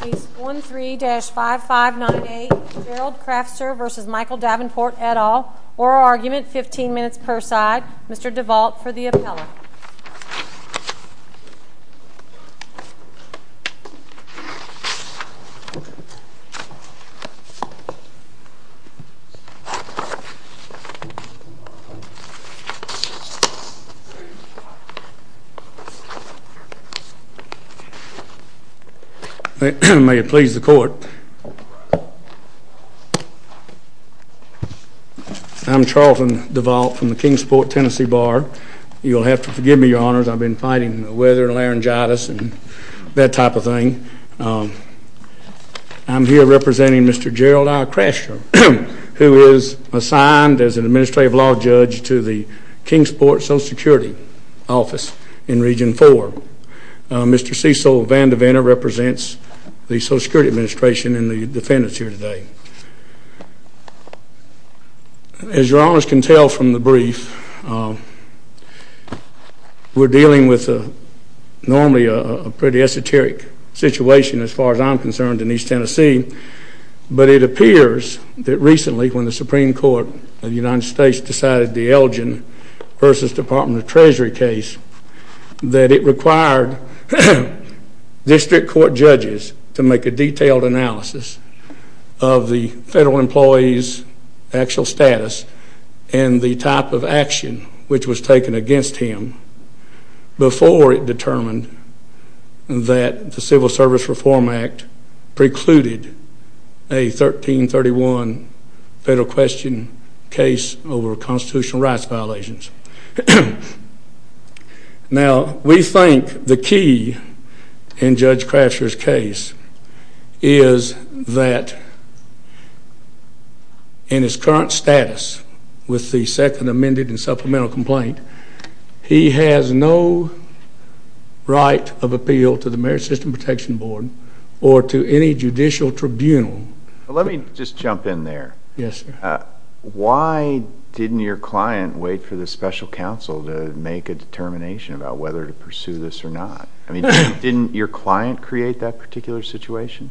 Case 13-5598 Gerald Krafsur v. Michael Davenport, et al. Oral argument, 15 minutes per side. Mr. DeVault for the appellate. May it please the court. I'm Charlton DeVault from the Kingsport, Tennessee Bar. You'll have to forgive me, your honors. I've been fighting weather and laryngitis and that type of thing. I'm here representing Mr. Gerald R. Krafsur, who is assigned as an administrative law judge to the Kingsport Social Security Office in Region 4. Mr. Cecil Vandivanna represents the Social Security Administration and the defendants here today. As your honors can tell from the brief, we're dealing with normally a pretty esoteric situation as far as I'm concerned in East Tennessee. But it appears that recently when the Supreme Court of the United States decided the Elgin v. Department of Treasury case, that it required district court judges to make a detailed analysis of the federal employee's actual status and the type of action which was taken against him before it determined that the Civil Service Reform Act precluded a 1331 federal question case over constitutional rights violations. Now, we think the key in Judge Krafsur's case is that in his current status with the second amended and supplemental complaint, he has no right of appeal to the Merit System Protection Board or to any judicial tribunal. Let me just jump in there. Yes, sir. Why didn't your client wait for the special counsel to make a determination about whether to pursue this or not? I mean, didn't your client create that particular situation?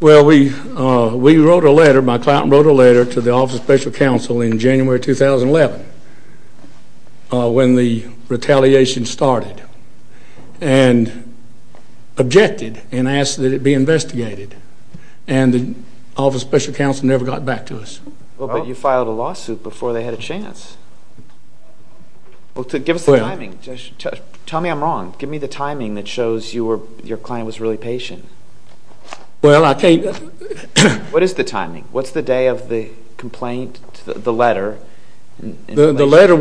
Well, we wrote a letter. My client wrote a letter to the Office of Special Counsel in January 2011 when the retaliation started and objected and asked that it be investigated. And the Office of Special Counsel never got back to us. Well, but you filed a lawsuit before they had a chance. Well, give us the timing. Tell me I'm wrong. Give me the timing that shows your client was really patient. Well, I can't. What is the timing? What's the day of the complaint, the letter? The letter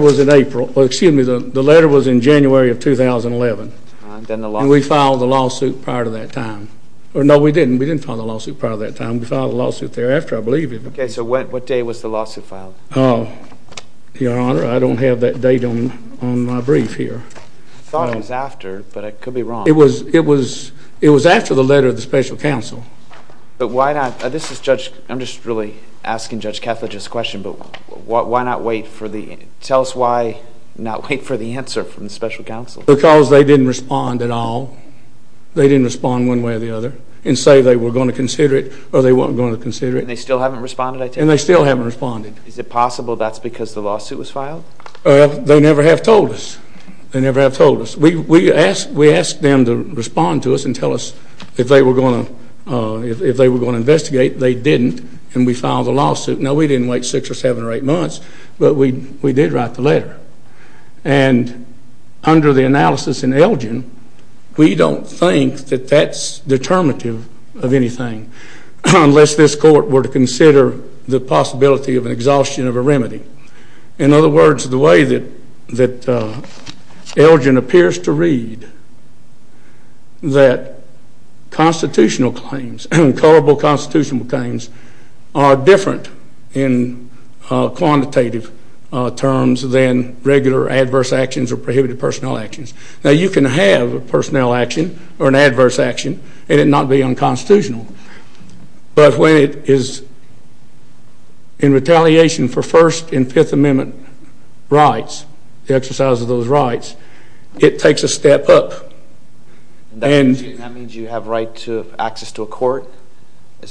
was in April. Well, excuse me. The letter was in January of 2011. And we filed a lawsuit prior to that time. No, we didn't. We didn't file a lawsuit prior to that time. We filed a lawsuit thereafter, I believe. Okay. So what day was the lawsuit filed? Your Honor, I don't have that date on my brief here. I thought it was after, but I could be wrong. It was after the letter of the special counsel. But why not? I'm just really asking Judge Catholic a question. Tell us why not wait for the answer from the special counsel. Because they didn't respond at all. They didn't respond one way or the other and say they were going to consider it or they weren't going to consider it. And they still haven't responded, I take it? And they still haven't responded. Is it possible that's because the lawsuit was filed? They never have told us. They never have told us. We asked them to respond to us and tell us if they were going to investigate. They didn't, and we filed a lawsuit. Now, we didn't wait six or seven or eight months, but we did write the letter. And under the analysis in Elgin, we don't think that that's determinative of anything unless this court were to consider the possibility of an exhaustion of a remedy. In other words, the way that Elgin appears to read that constitutional claims, colorable constitutional claims, are different in quantitative terms than regular adverse actions or prohibited personnel actions. Now, you can have a personnel action or an adverse action and it not be unconstitutional. But when it is in retaliation for First and Fifth Amendment rights, the exercise of those rights, it takes a step up. And that means you have right to access to a court?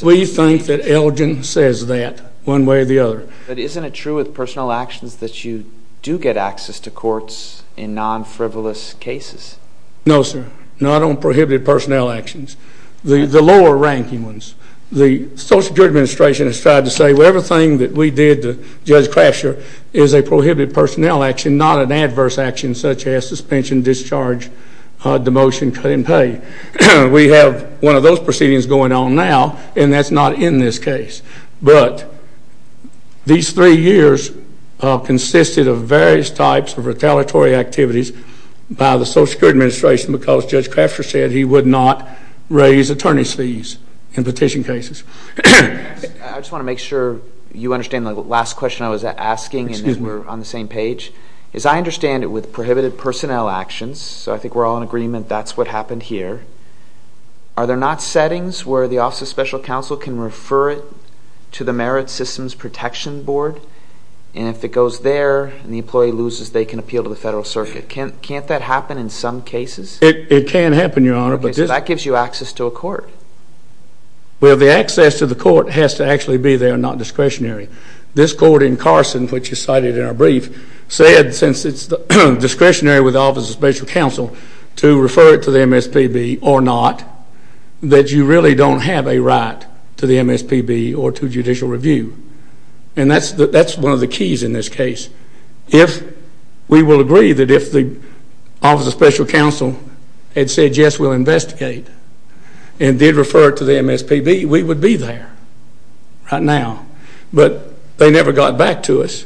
We think that Elgin says that one way or the other. But isn't it true with personnel actions that you do get access to courts in non-frivolous cases? No, sir. Not on prohibited personnel actions. The lower ranking ones. The Social Security Administration has tried to say, well, everything that we did to Judge Crasher is a prohibited personnel action, not an adverse action such as suspension, discharge, demotion, cut in pay. We have one of those proceedings going on now and that's not in this case. But these three years consisted of various types of retaliatory activities by the Social Security Administration because Judge Crasher said he would not raise attorney's fees in petition cases. I just want to make sure you understand the last question I was asking and then we're on the same page. As I understand it, with prohibited personnel actions, so I think we're all in agreement that's what happened here, are there not settings where the Office of Special Counsel can refer it to the Merit Systems Protection Board? And if it goes there and the employee loses, they can appeal to the Federal Circuit. Can't that happen in some cases? It can happen, Your Honor. Okay, so that gives you access to a court. Well, the access to the court has to actually be there, not discretionary. This court in Carson, which is cited in our brief, said since it's discretionary with the Office of Special Counsel to refer it to the MSPB or not, that you really don't have a right to the MSPB or to judicial review. And that's one of the keys in this case. If we will agree that if the Office of Special Counsel had said yes, we'll investigate and did refer it to the MSPB, we would be there right now. But they never got back to us.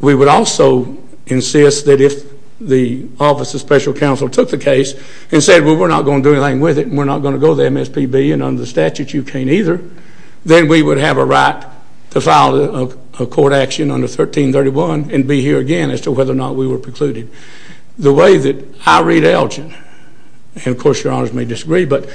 We would also insist that if the Office of Special Counsel took the case and said, well, we're not going to do anything with it and we're not going to go to the MSPB and under the statute you can't either, then we would have a right to file a court action under 1331 and be here again as to whether or not we were precluded. The way that I read Elgin, and of course Your Honors may disagree, but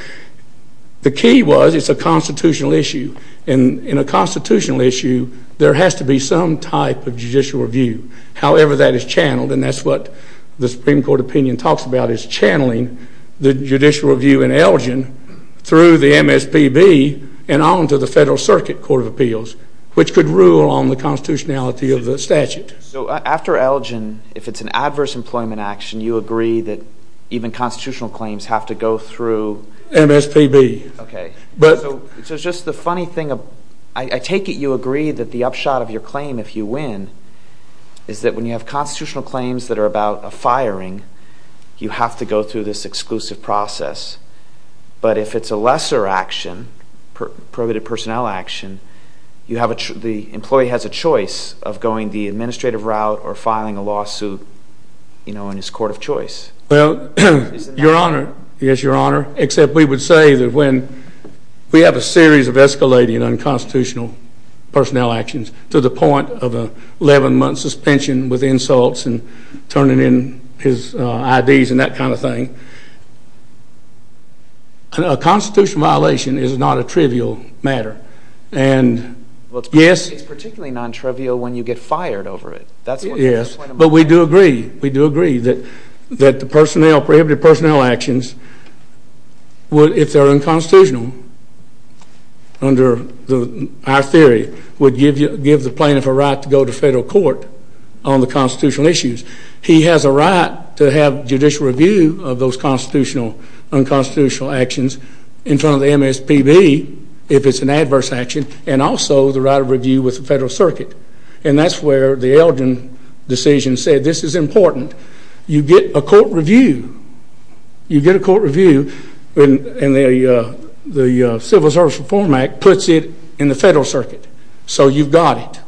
the key was it's a constitutional issue. In a constitutional issue, there has to be some type of judicial review. However that is channeled, and that's what the Supreme Court opinion talks about, is channeling the judicial review in Elgin through the MSPB and on to the Federal Circuit Court of Appeals, which could rule on the constitutionality of the statute. So after Elgin, if it's an adverse employment action, you agree that even constitutional claims have to go through? MSPB. Okay. So it's just the funny thing. I take it you agree that the upshot of your claim, if you win, is that when you have constitutional claims that are about a firing, you have to go through this exclusive process. But if it's a lesser action, prohibited personnel action, the employee has a choice of going the administrative route or filing a lawsuit in his court of choice. Well, Your Honor, yes, Your Honor, except we would say that when we have a series of escalating unconstitutional personnel actions to the point of an 11-month suspension with insults and turning in his IDs and that kind of thing, a constitutional violation is not a trivial matter. It's particularly non-trivial when you get fired over it. Yes, but we do agree. We do agree that the prohibited personnel actions, if they're unconstitutional under our theory, would give the plaintiff a right to go to federal court on the constitutional issues. He has a right to have judicial review of those unconstitutional actions in front of the MSPB if it's an adverse action and also the right of review with the federal circuit. And that's where the Eldrin decision said this is important. You get a court review, you get a court review, and the Civil Service Reform Act puts it in the federal circuit. So you've got it.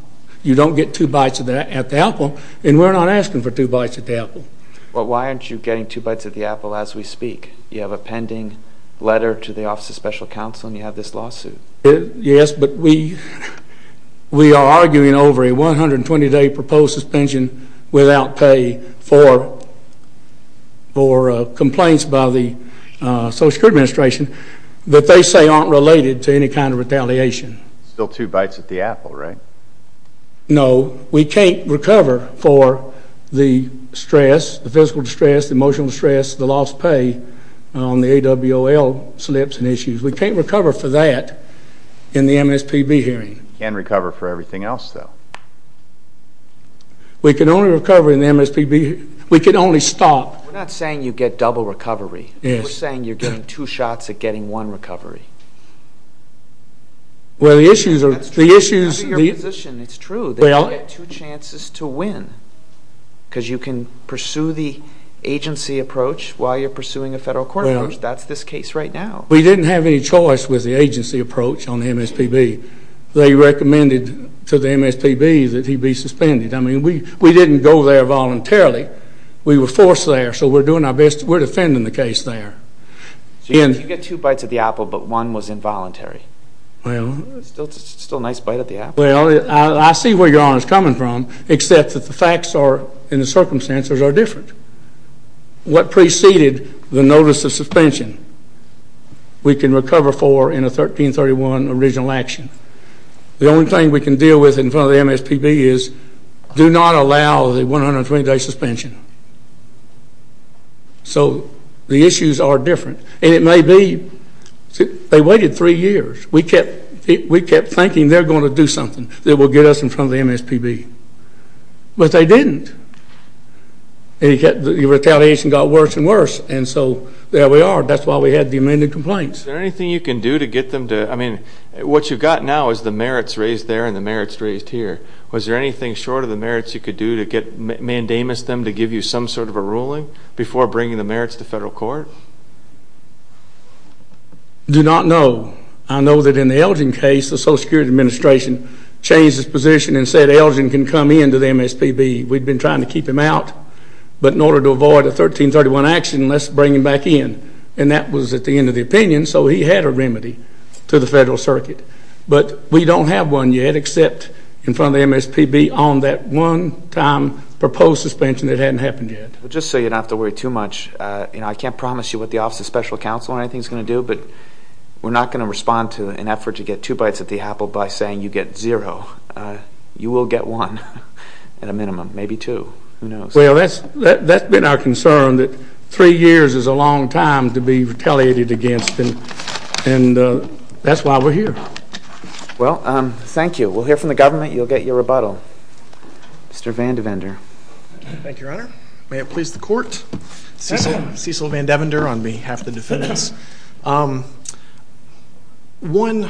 You don't get two bites at the apple, and we're not asking for two bites at the apple. Well, why aren't you getting two bites at the apple as we speak? You have a pending letter to the Office of Special Counsel and you have this lawsuit. Yes, but we are arguing over a 120-day proposed suspension without pay for complaints by the Social Security Administration that they say aren't related to any kind of retaliation. Still two bites at the apple, right? No. We can't recover for the stress, the physical distress, the emotional stress, the lost pay on the AWOL slips and issues. We can't recover for that in the MSPB hearing. You can recover for everything else, though. We can only recover in the MSPB hearing. We can only stop. We're not saying you get double recovery. Yes. We're saying you're getting two shots at getting one recovery. Well, the issues are the issues. That's true. That's your position. It's true that you get two chances to win because you can pursue the agency approach while you're pursuing a federal court approach. That's this case right now. We didn't have any choice with the agency approach on the MSPB. They recommended to the MSPB that he be suspended. I mean, we didn't go there voluntarily. We were forced there, so we're doing our best. We're defending the case there. So you get two bites at the apple, but one was involuntary. Still a nice bite at the apple. Well, I see where your Honor is coming from, except that the facts and the circumstances are different. What preceded the notice of suspension we can recover for in a 1331 original action. The only thing we can deal with in front of the MSPB is do not allow the 120-day suspension. So the issues are different, and it may be. They waited three years. We kept thinking they're going to do something that will get us in front of the MSPB, but they didn't. And the retaliation got worse and worse, and so there we are. That's why we had the amended complaints. Is there anything you can do to get them to, I mean, what you've got now is the merits raised there and the merits raised here. Was there anything short of the merits you could do to get mandamus them to give you some sort of a ruling before bringing the merits to federal court? Do not know. I know that in the Elgin case, the Social Security Administration changed its position and said Elgin can come in to the MSPB. We'd been trying to keep him out, but in order to avoid a 1331 action, let's bring him back in, and that was at the end of the opinion, so he had a remedy to the federal circuit. But we don't have one yet except in front of the MSPB on that one-time proposed suspension that hadn't happened yet. Just so you don't have to worry too much, I can't promise you what the Office of Special Counsel or anything is going to do, but we're not going to respond to an effort to get two bites at the apple by saying you get zero. You will get one at a minimum, maybe two. Who knows? Well, that's been our concern that three years is a long time to be retaliated against, and that's why we're here. Well, thank you. We'll hear from the government. You'll get your rebuttal. Mr. Vandevender. Thank you, Your Honor. May it please the Court. Cecil Vandevender on behalf of the defendants. Yes. One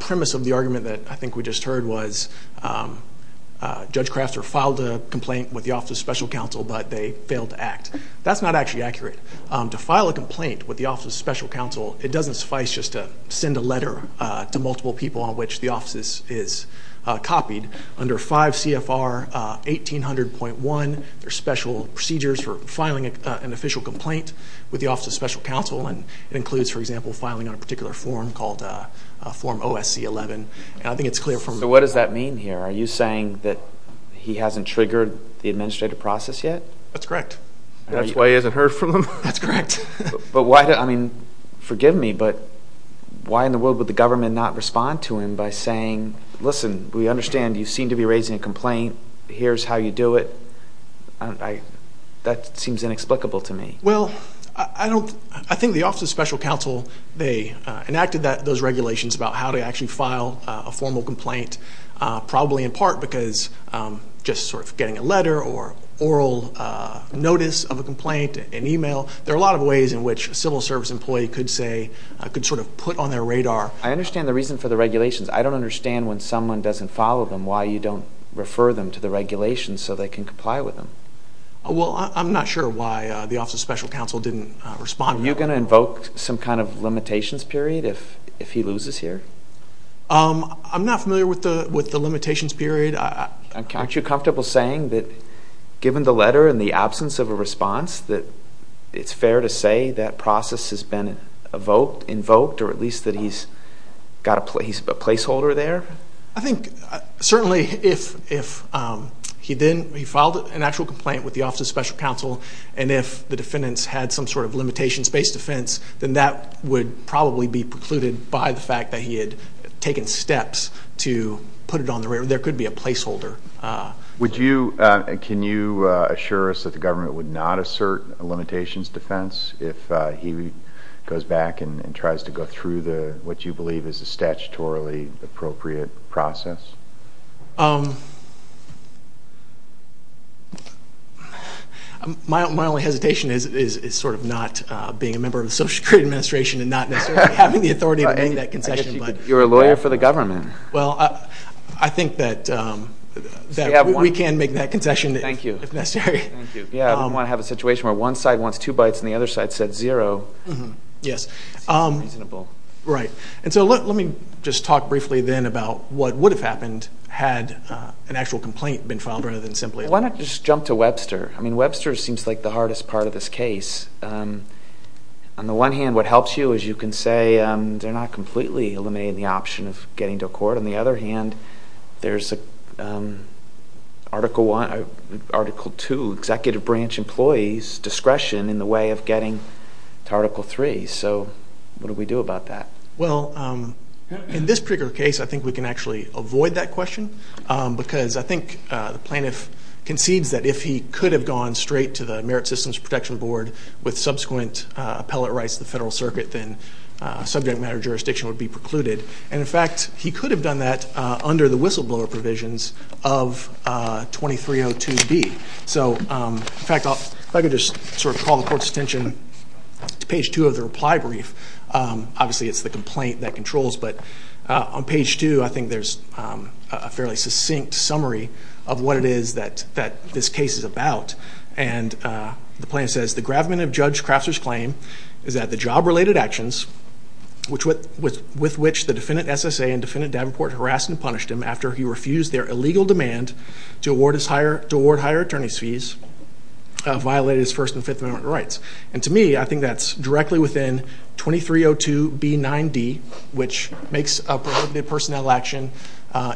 premise of the argument that I think we just heard was Judge Krafter filed a complaint with the Office of Special Counsel, but they failed to act. That's not actually accurate. To file a complaint with the Office of Special Counsel, it doesn't suffice just to send a letter to multiple people on which the office is copied. Under 5 CFR 1800.1, there are special procedures for filing an official complaint with the Office of Special Counsel, and it includes, for example, filing on a particular form called Form OSC-11. I think it's clear from... What does that mean here? Are you saying that he hasn't triggered the administrative process yet? That's correct. That's why he hasn't heard from them? That's correct. But why? I mean, forgive me, but why in the world would the government not respond to him by saying, listen, we understand you seem to be raising a complaint. Here's how you do it. That seems inexplicable to me. Well, I think the Office of Special Counsel, they enacted those regulations about how to actually file a formal complaint, probably in part because just sort of getting a letter or oral notice of a complaint, an email. There are a lot of ways in which a civil service employee could sort of put on their radar. I understand the reason for the regulations. I don't understand when someone doesn't follow them why you don't refer them to the regulations so they can comply with them. Well, I'm not sure why the Office of Special Counsel didn't respond. Are you going to invoke some kind of limitations period if he loses here? I'm not familiar with the limitations period. Aren't you comfortable saying that given the letter and the absence of a response, that it's fair to say that process has been evoked, invoked, or at least that he's a placeholder there? I think certainly if he filed an actual complaint with the Office of Special Counsel and if the defendants had some sort of limitations-based defense, then that would probably be precluded by the fact that he had taken steps to put it on the radar. There could be a placeholder. Can you assure us that the government would not assert a limitations defense if he goes back and tries to go through what you believe is a statutorily appropriate process? My only hesitation is sort of not being a member of the Social Security Administration and not necessarily having the authority to make that concession. You're a lawyer for the government. Well, I think that we can make that concession if necessary. Thank you. I don't want to have a situation where one side wants two bites and the other side says zero. Yes. It's unreasonable. Right. Let me just talk briefly then about what would have happened had an actual complaint been filed rather than simply- Why not just jump to Webster? Webster seems like the hardest part of this case. On the one hand, what helps you is you can say they're not completely eliminating the option of getting to a court. On the other hand, there's Article 2, Executive Branch Employees, discretion in the way of getting to Article 3. So what do we do about that? Well, in this particular case, I think we can actually avoid that question because I think the plaintiff concedes that if he could have gone straight to the Merit Systems Protection Board with subsequent appellate rights to the Federal Circuit, then subject matter jurisdiction would be precluded. And, in fact, he could have done that under the whistleblower provisions of 2302B. So, in fact, if I could just sort of call the court's attention to page 2 of the reply brief. Obviously, it's the complaint that controls. But on page 2, I think there's a fairly succinct summary of what it is that this case is about. And the plaintiff says, the gravamen of Judge Crafter's claim is that the job-related actions with which the defendant SSA and defendant Davenport harassed and punished him after he refused their illegal demand to award higher attorney's fees violated his First and Fifth Amendment rights. And, to me, I think that's directly within 2302B.9.D., which makes a prohibited personnel action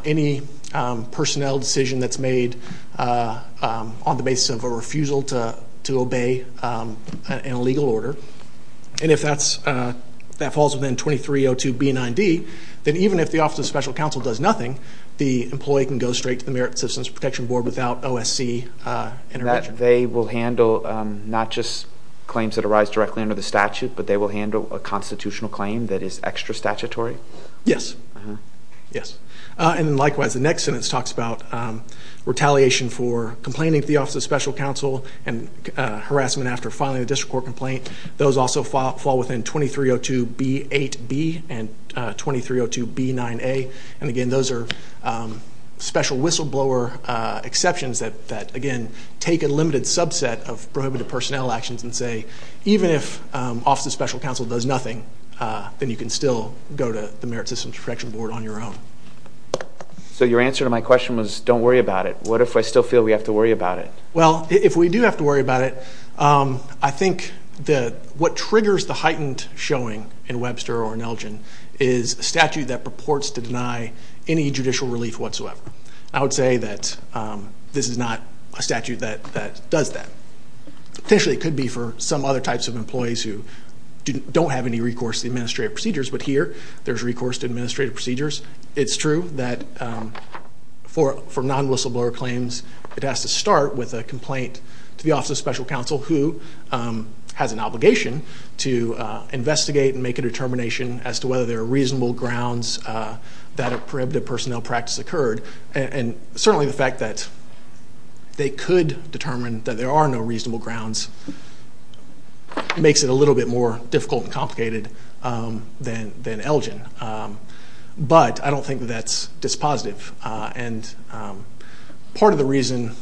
any personnel decision that's made on the basis of a refusal to obey an illegal order. And if that falls within 2302B.9.D., then even if the Office of Special Counsel does nothing, the employee can go straight to the Merit Systems Protection Board without OSC intervention. They will handle not just claims that arise directly under the statute, but they will handle a constitutional claim that is extra statutory? Yes. And, likewise, the next sentence talks about retaliation for complaining to the Office of Special Counsel and harassment after filing a district court complaint. Those also fall within 2302B.8.B. and 2302B.9.A. And, again, those are special whistleblower exceptions that, again, take a limited subset of prohibited personnel actions and say, even if Office of Special Counsel does nothing, then you can still go to the Merit Systems Protection Board on your own. So your answer to my question was, don't worry about it. What if I still feel we have to worry about it? Well, if we do have to worry about it, I think what triggers the heightened showing in Webster or Nelgen is a statute that purports to deny any judicial relief whatsoever. I would say that this is not a statute that does that. Potentially it could be for some other types of employees who don't have any recourse to the administrative procedures, but here there's recourse to administrative procedures. It's true that for non-whistleblower claims, it has to start with a complaint to the Office of Special Counsel, who has an obligation to investigate and make a determination as to whether there are reasonable grounds that a prohibited personnel practice occurred. And certainly the fact that they could determine that there are no reasonable grounds makes it a little bit more difficult and complicated than Nelgen. But I don't think that that's dispositive. And part of the reason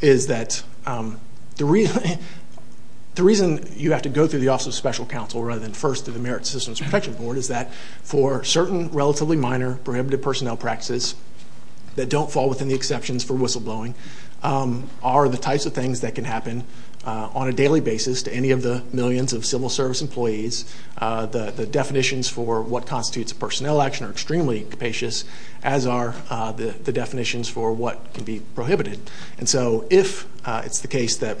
is that the reason you have to go through the Office of Special Counsel rather than first to the Merit Systems Protection Board is that for certain relatively minor prohibited personnel practices that don't fall within the exceptions for whistleblowing are the types of things that can happen on a daily basis to any of the millions of civil service employees. The definitions for what constitutes a personnel action are extremely capacious, as are the definitions for what can be prohibited. And so if it's the case that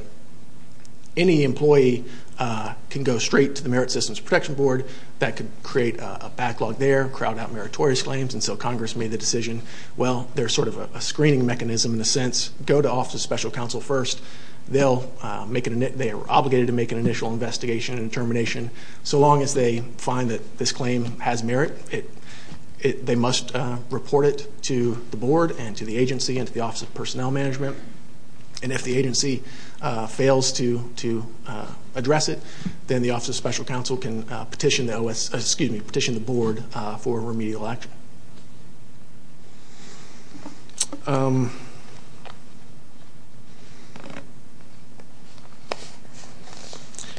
any employee can go straight to the Merit Systems Protection Board, that could create a backlog there, crowd out meritorious claims, and so Congress made the decision, well, there's sort of a screening mechanism in a sense. Go to Office of Special Counsel first. They are obligated to make an initial investigation and determination. So long as they find that this claim has merit, they must report it to the board and to the agency and to the Office of Personnel Management. And if the agency fails to address it, then the Office of Special Counsel can petition the board for remedial action.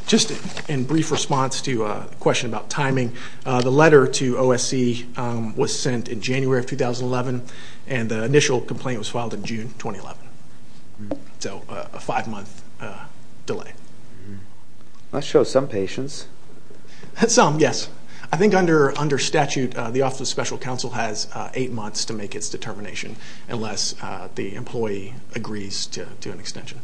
Just in brief response to a question about timing, the letter to OSC was sent in January of 2011, and the initial complaint was filed in June 2011. So a five-month delay. That shows some patience. Some, yes. I think under statute, the Office of Special Counsel has eight months to make its determination unless the employee agrees to an extension.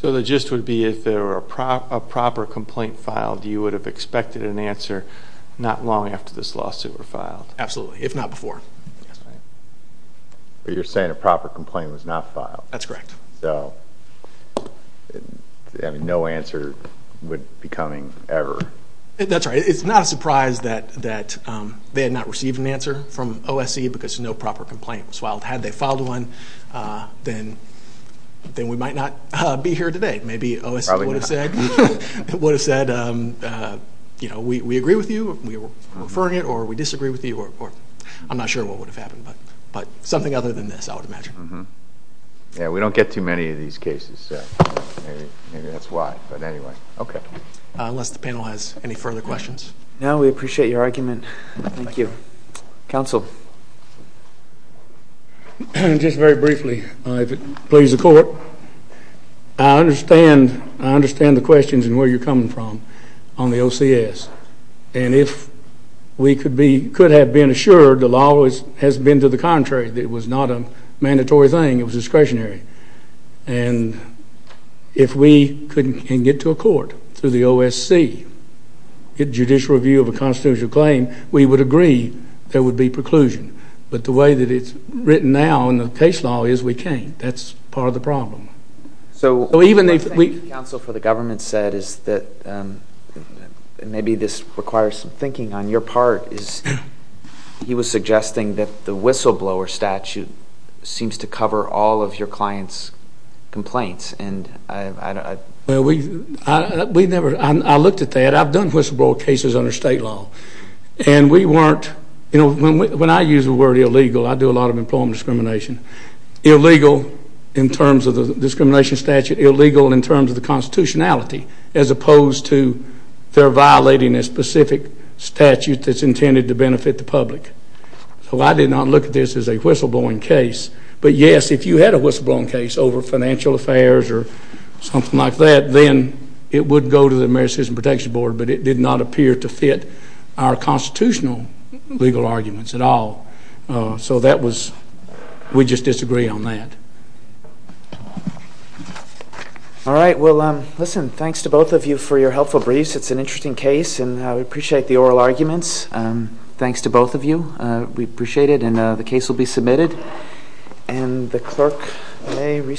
So the gist would be if there were a proper complaint filed, you would have expected an answer not long after this lawsuit were filed. Absolutely, if not before. You're saying a proper complaint was not filed. That's correct. So no answer would be coming ever. That's right. It's not a surprise that they had not received an answer from OSC because no proper complaint was filed. Had they filed one, then we might not be here today. Maybe OSC would have said, we agree with you, we're referring it, or we disagree with you. I'm not sure what would have happened. But something other than this, I would imagine. We don't get too many of these cases. Maybe that's why. Unless the panel has any further questions. No, we appreciate your argument. Counsel. Just very briefly, if it pleases the court, I understand the questions and where you're coming from on the OCS. And if we could have been assured the law has been to the contrary, that it was not a mandatory thing, it was discretionary. And if we can get to a court through the OSC, get judicial review of a constitutional claim, we would agree there would be preclusion. But the way that it's written now in the case law is we can't. That's part of the problem. So what the counsel for the government said is that maybe this requires some thinking on your part. He was suggesting that the whistleblower statute seems to cover all of your clients' complaints. I looked at that. I've done whistleblower cases under state law. And we weren't, when I use the word illegal, I do a lot of employment discrimination. Illegal in terms of the discrimination statute, illegal in terms of the constitutionality, as opposed to they're violating a specific statute that's intended to benefit the public. So I did not look at this as a whistleblowing case. But, yes, if you had a whistleblowing case over financial affairs or something like that, then it would go to the American Citizens Protection Board. But it did not appear to fit our constitutional legal arguments at all. So that was, we just disagree on that. All right. Well, listen, thanks to both of you for your helpful briefs. It's an interesting case. And we appreciate the oral arguments. Thanks to both of you. We appreciate it. And the case will be submitted. And the clerk may recess.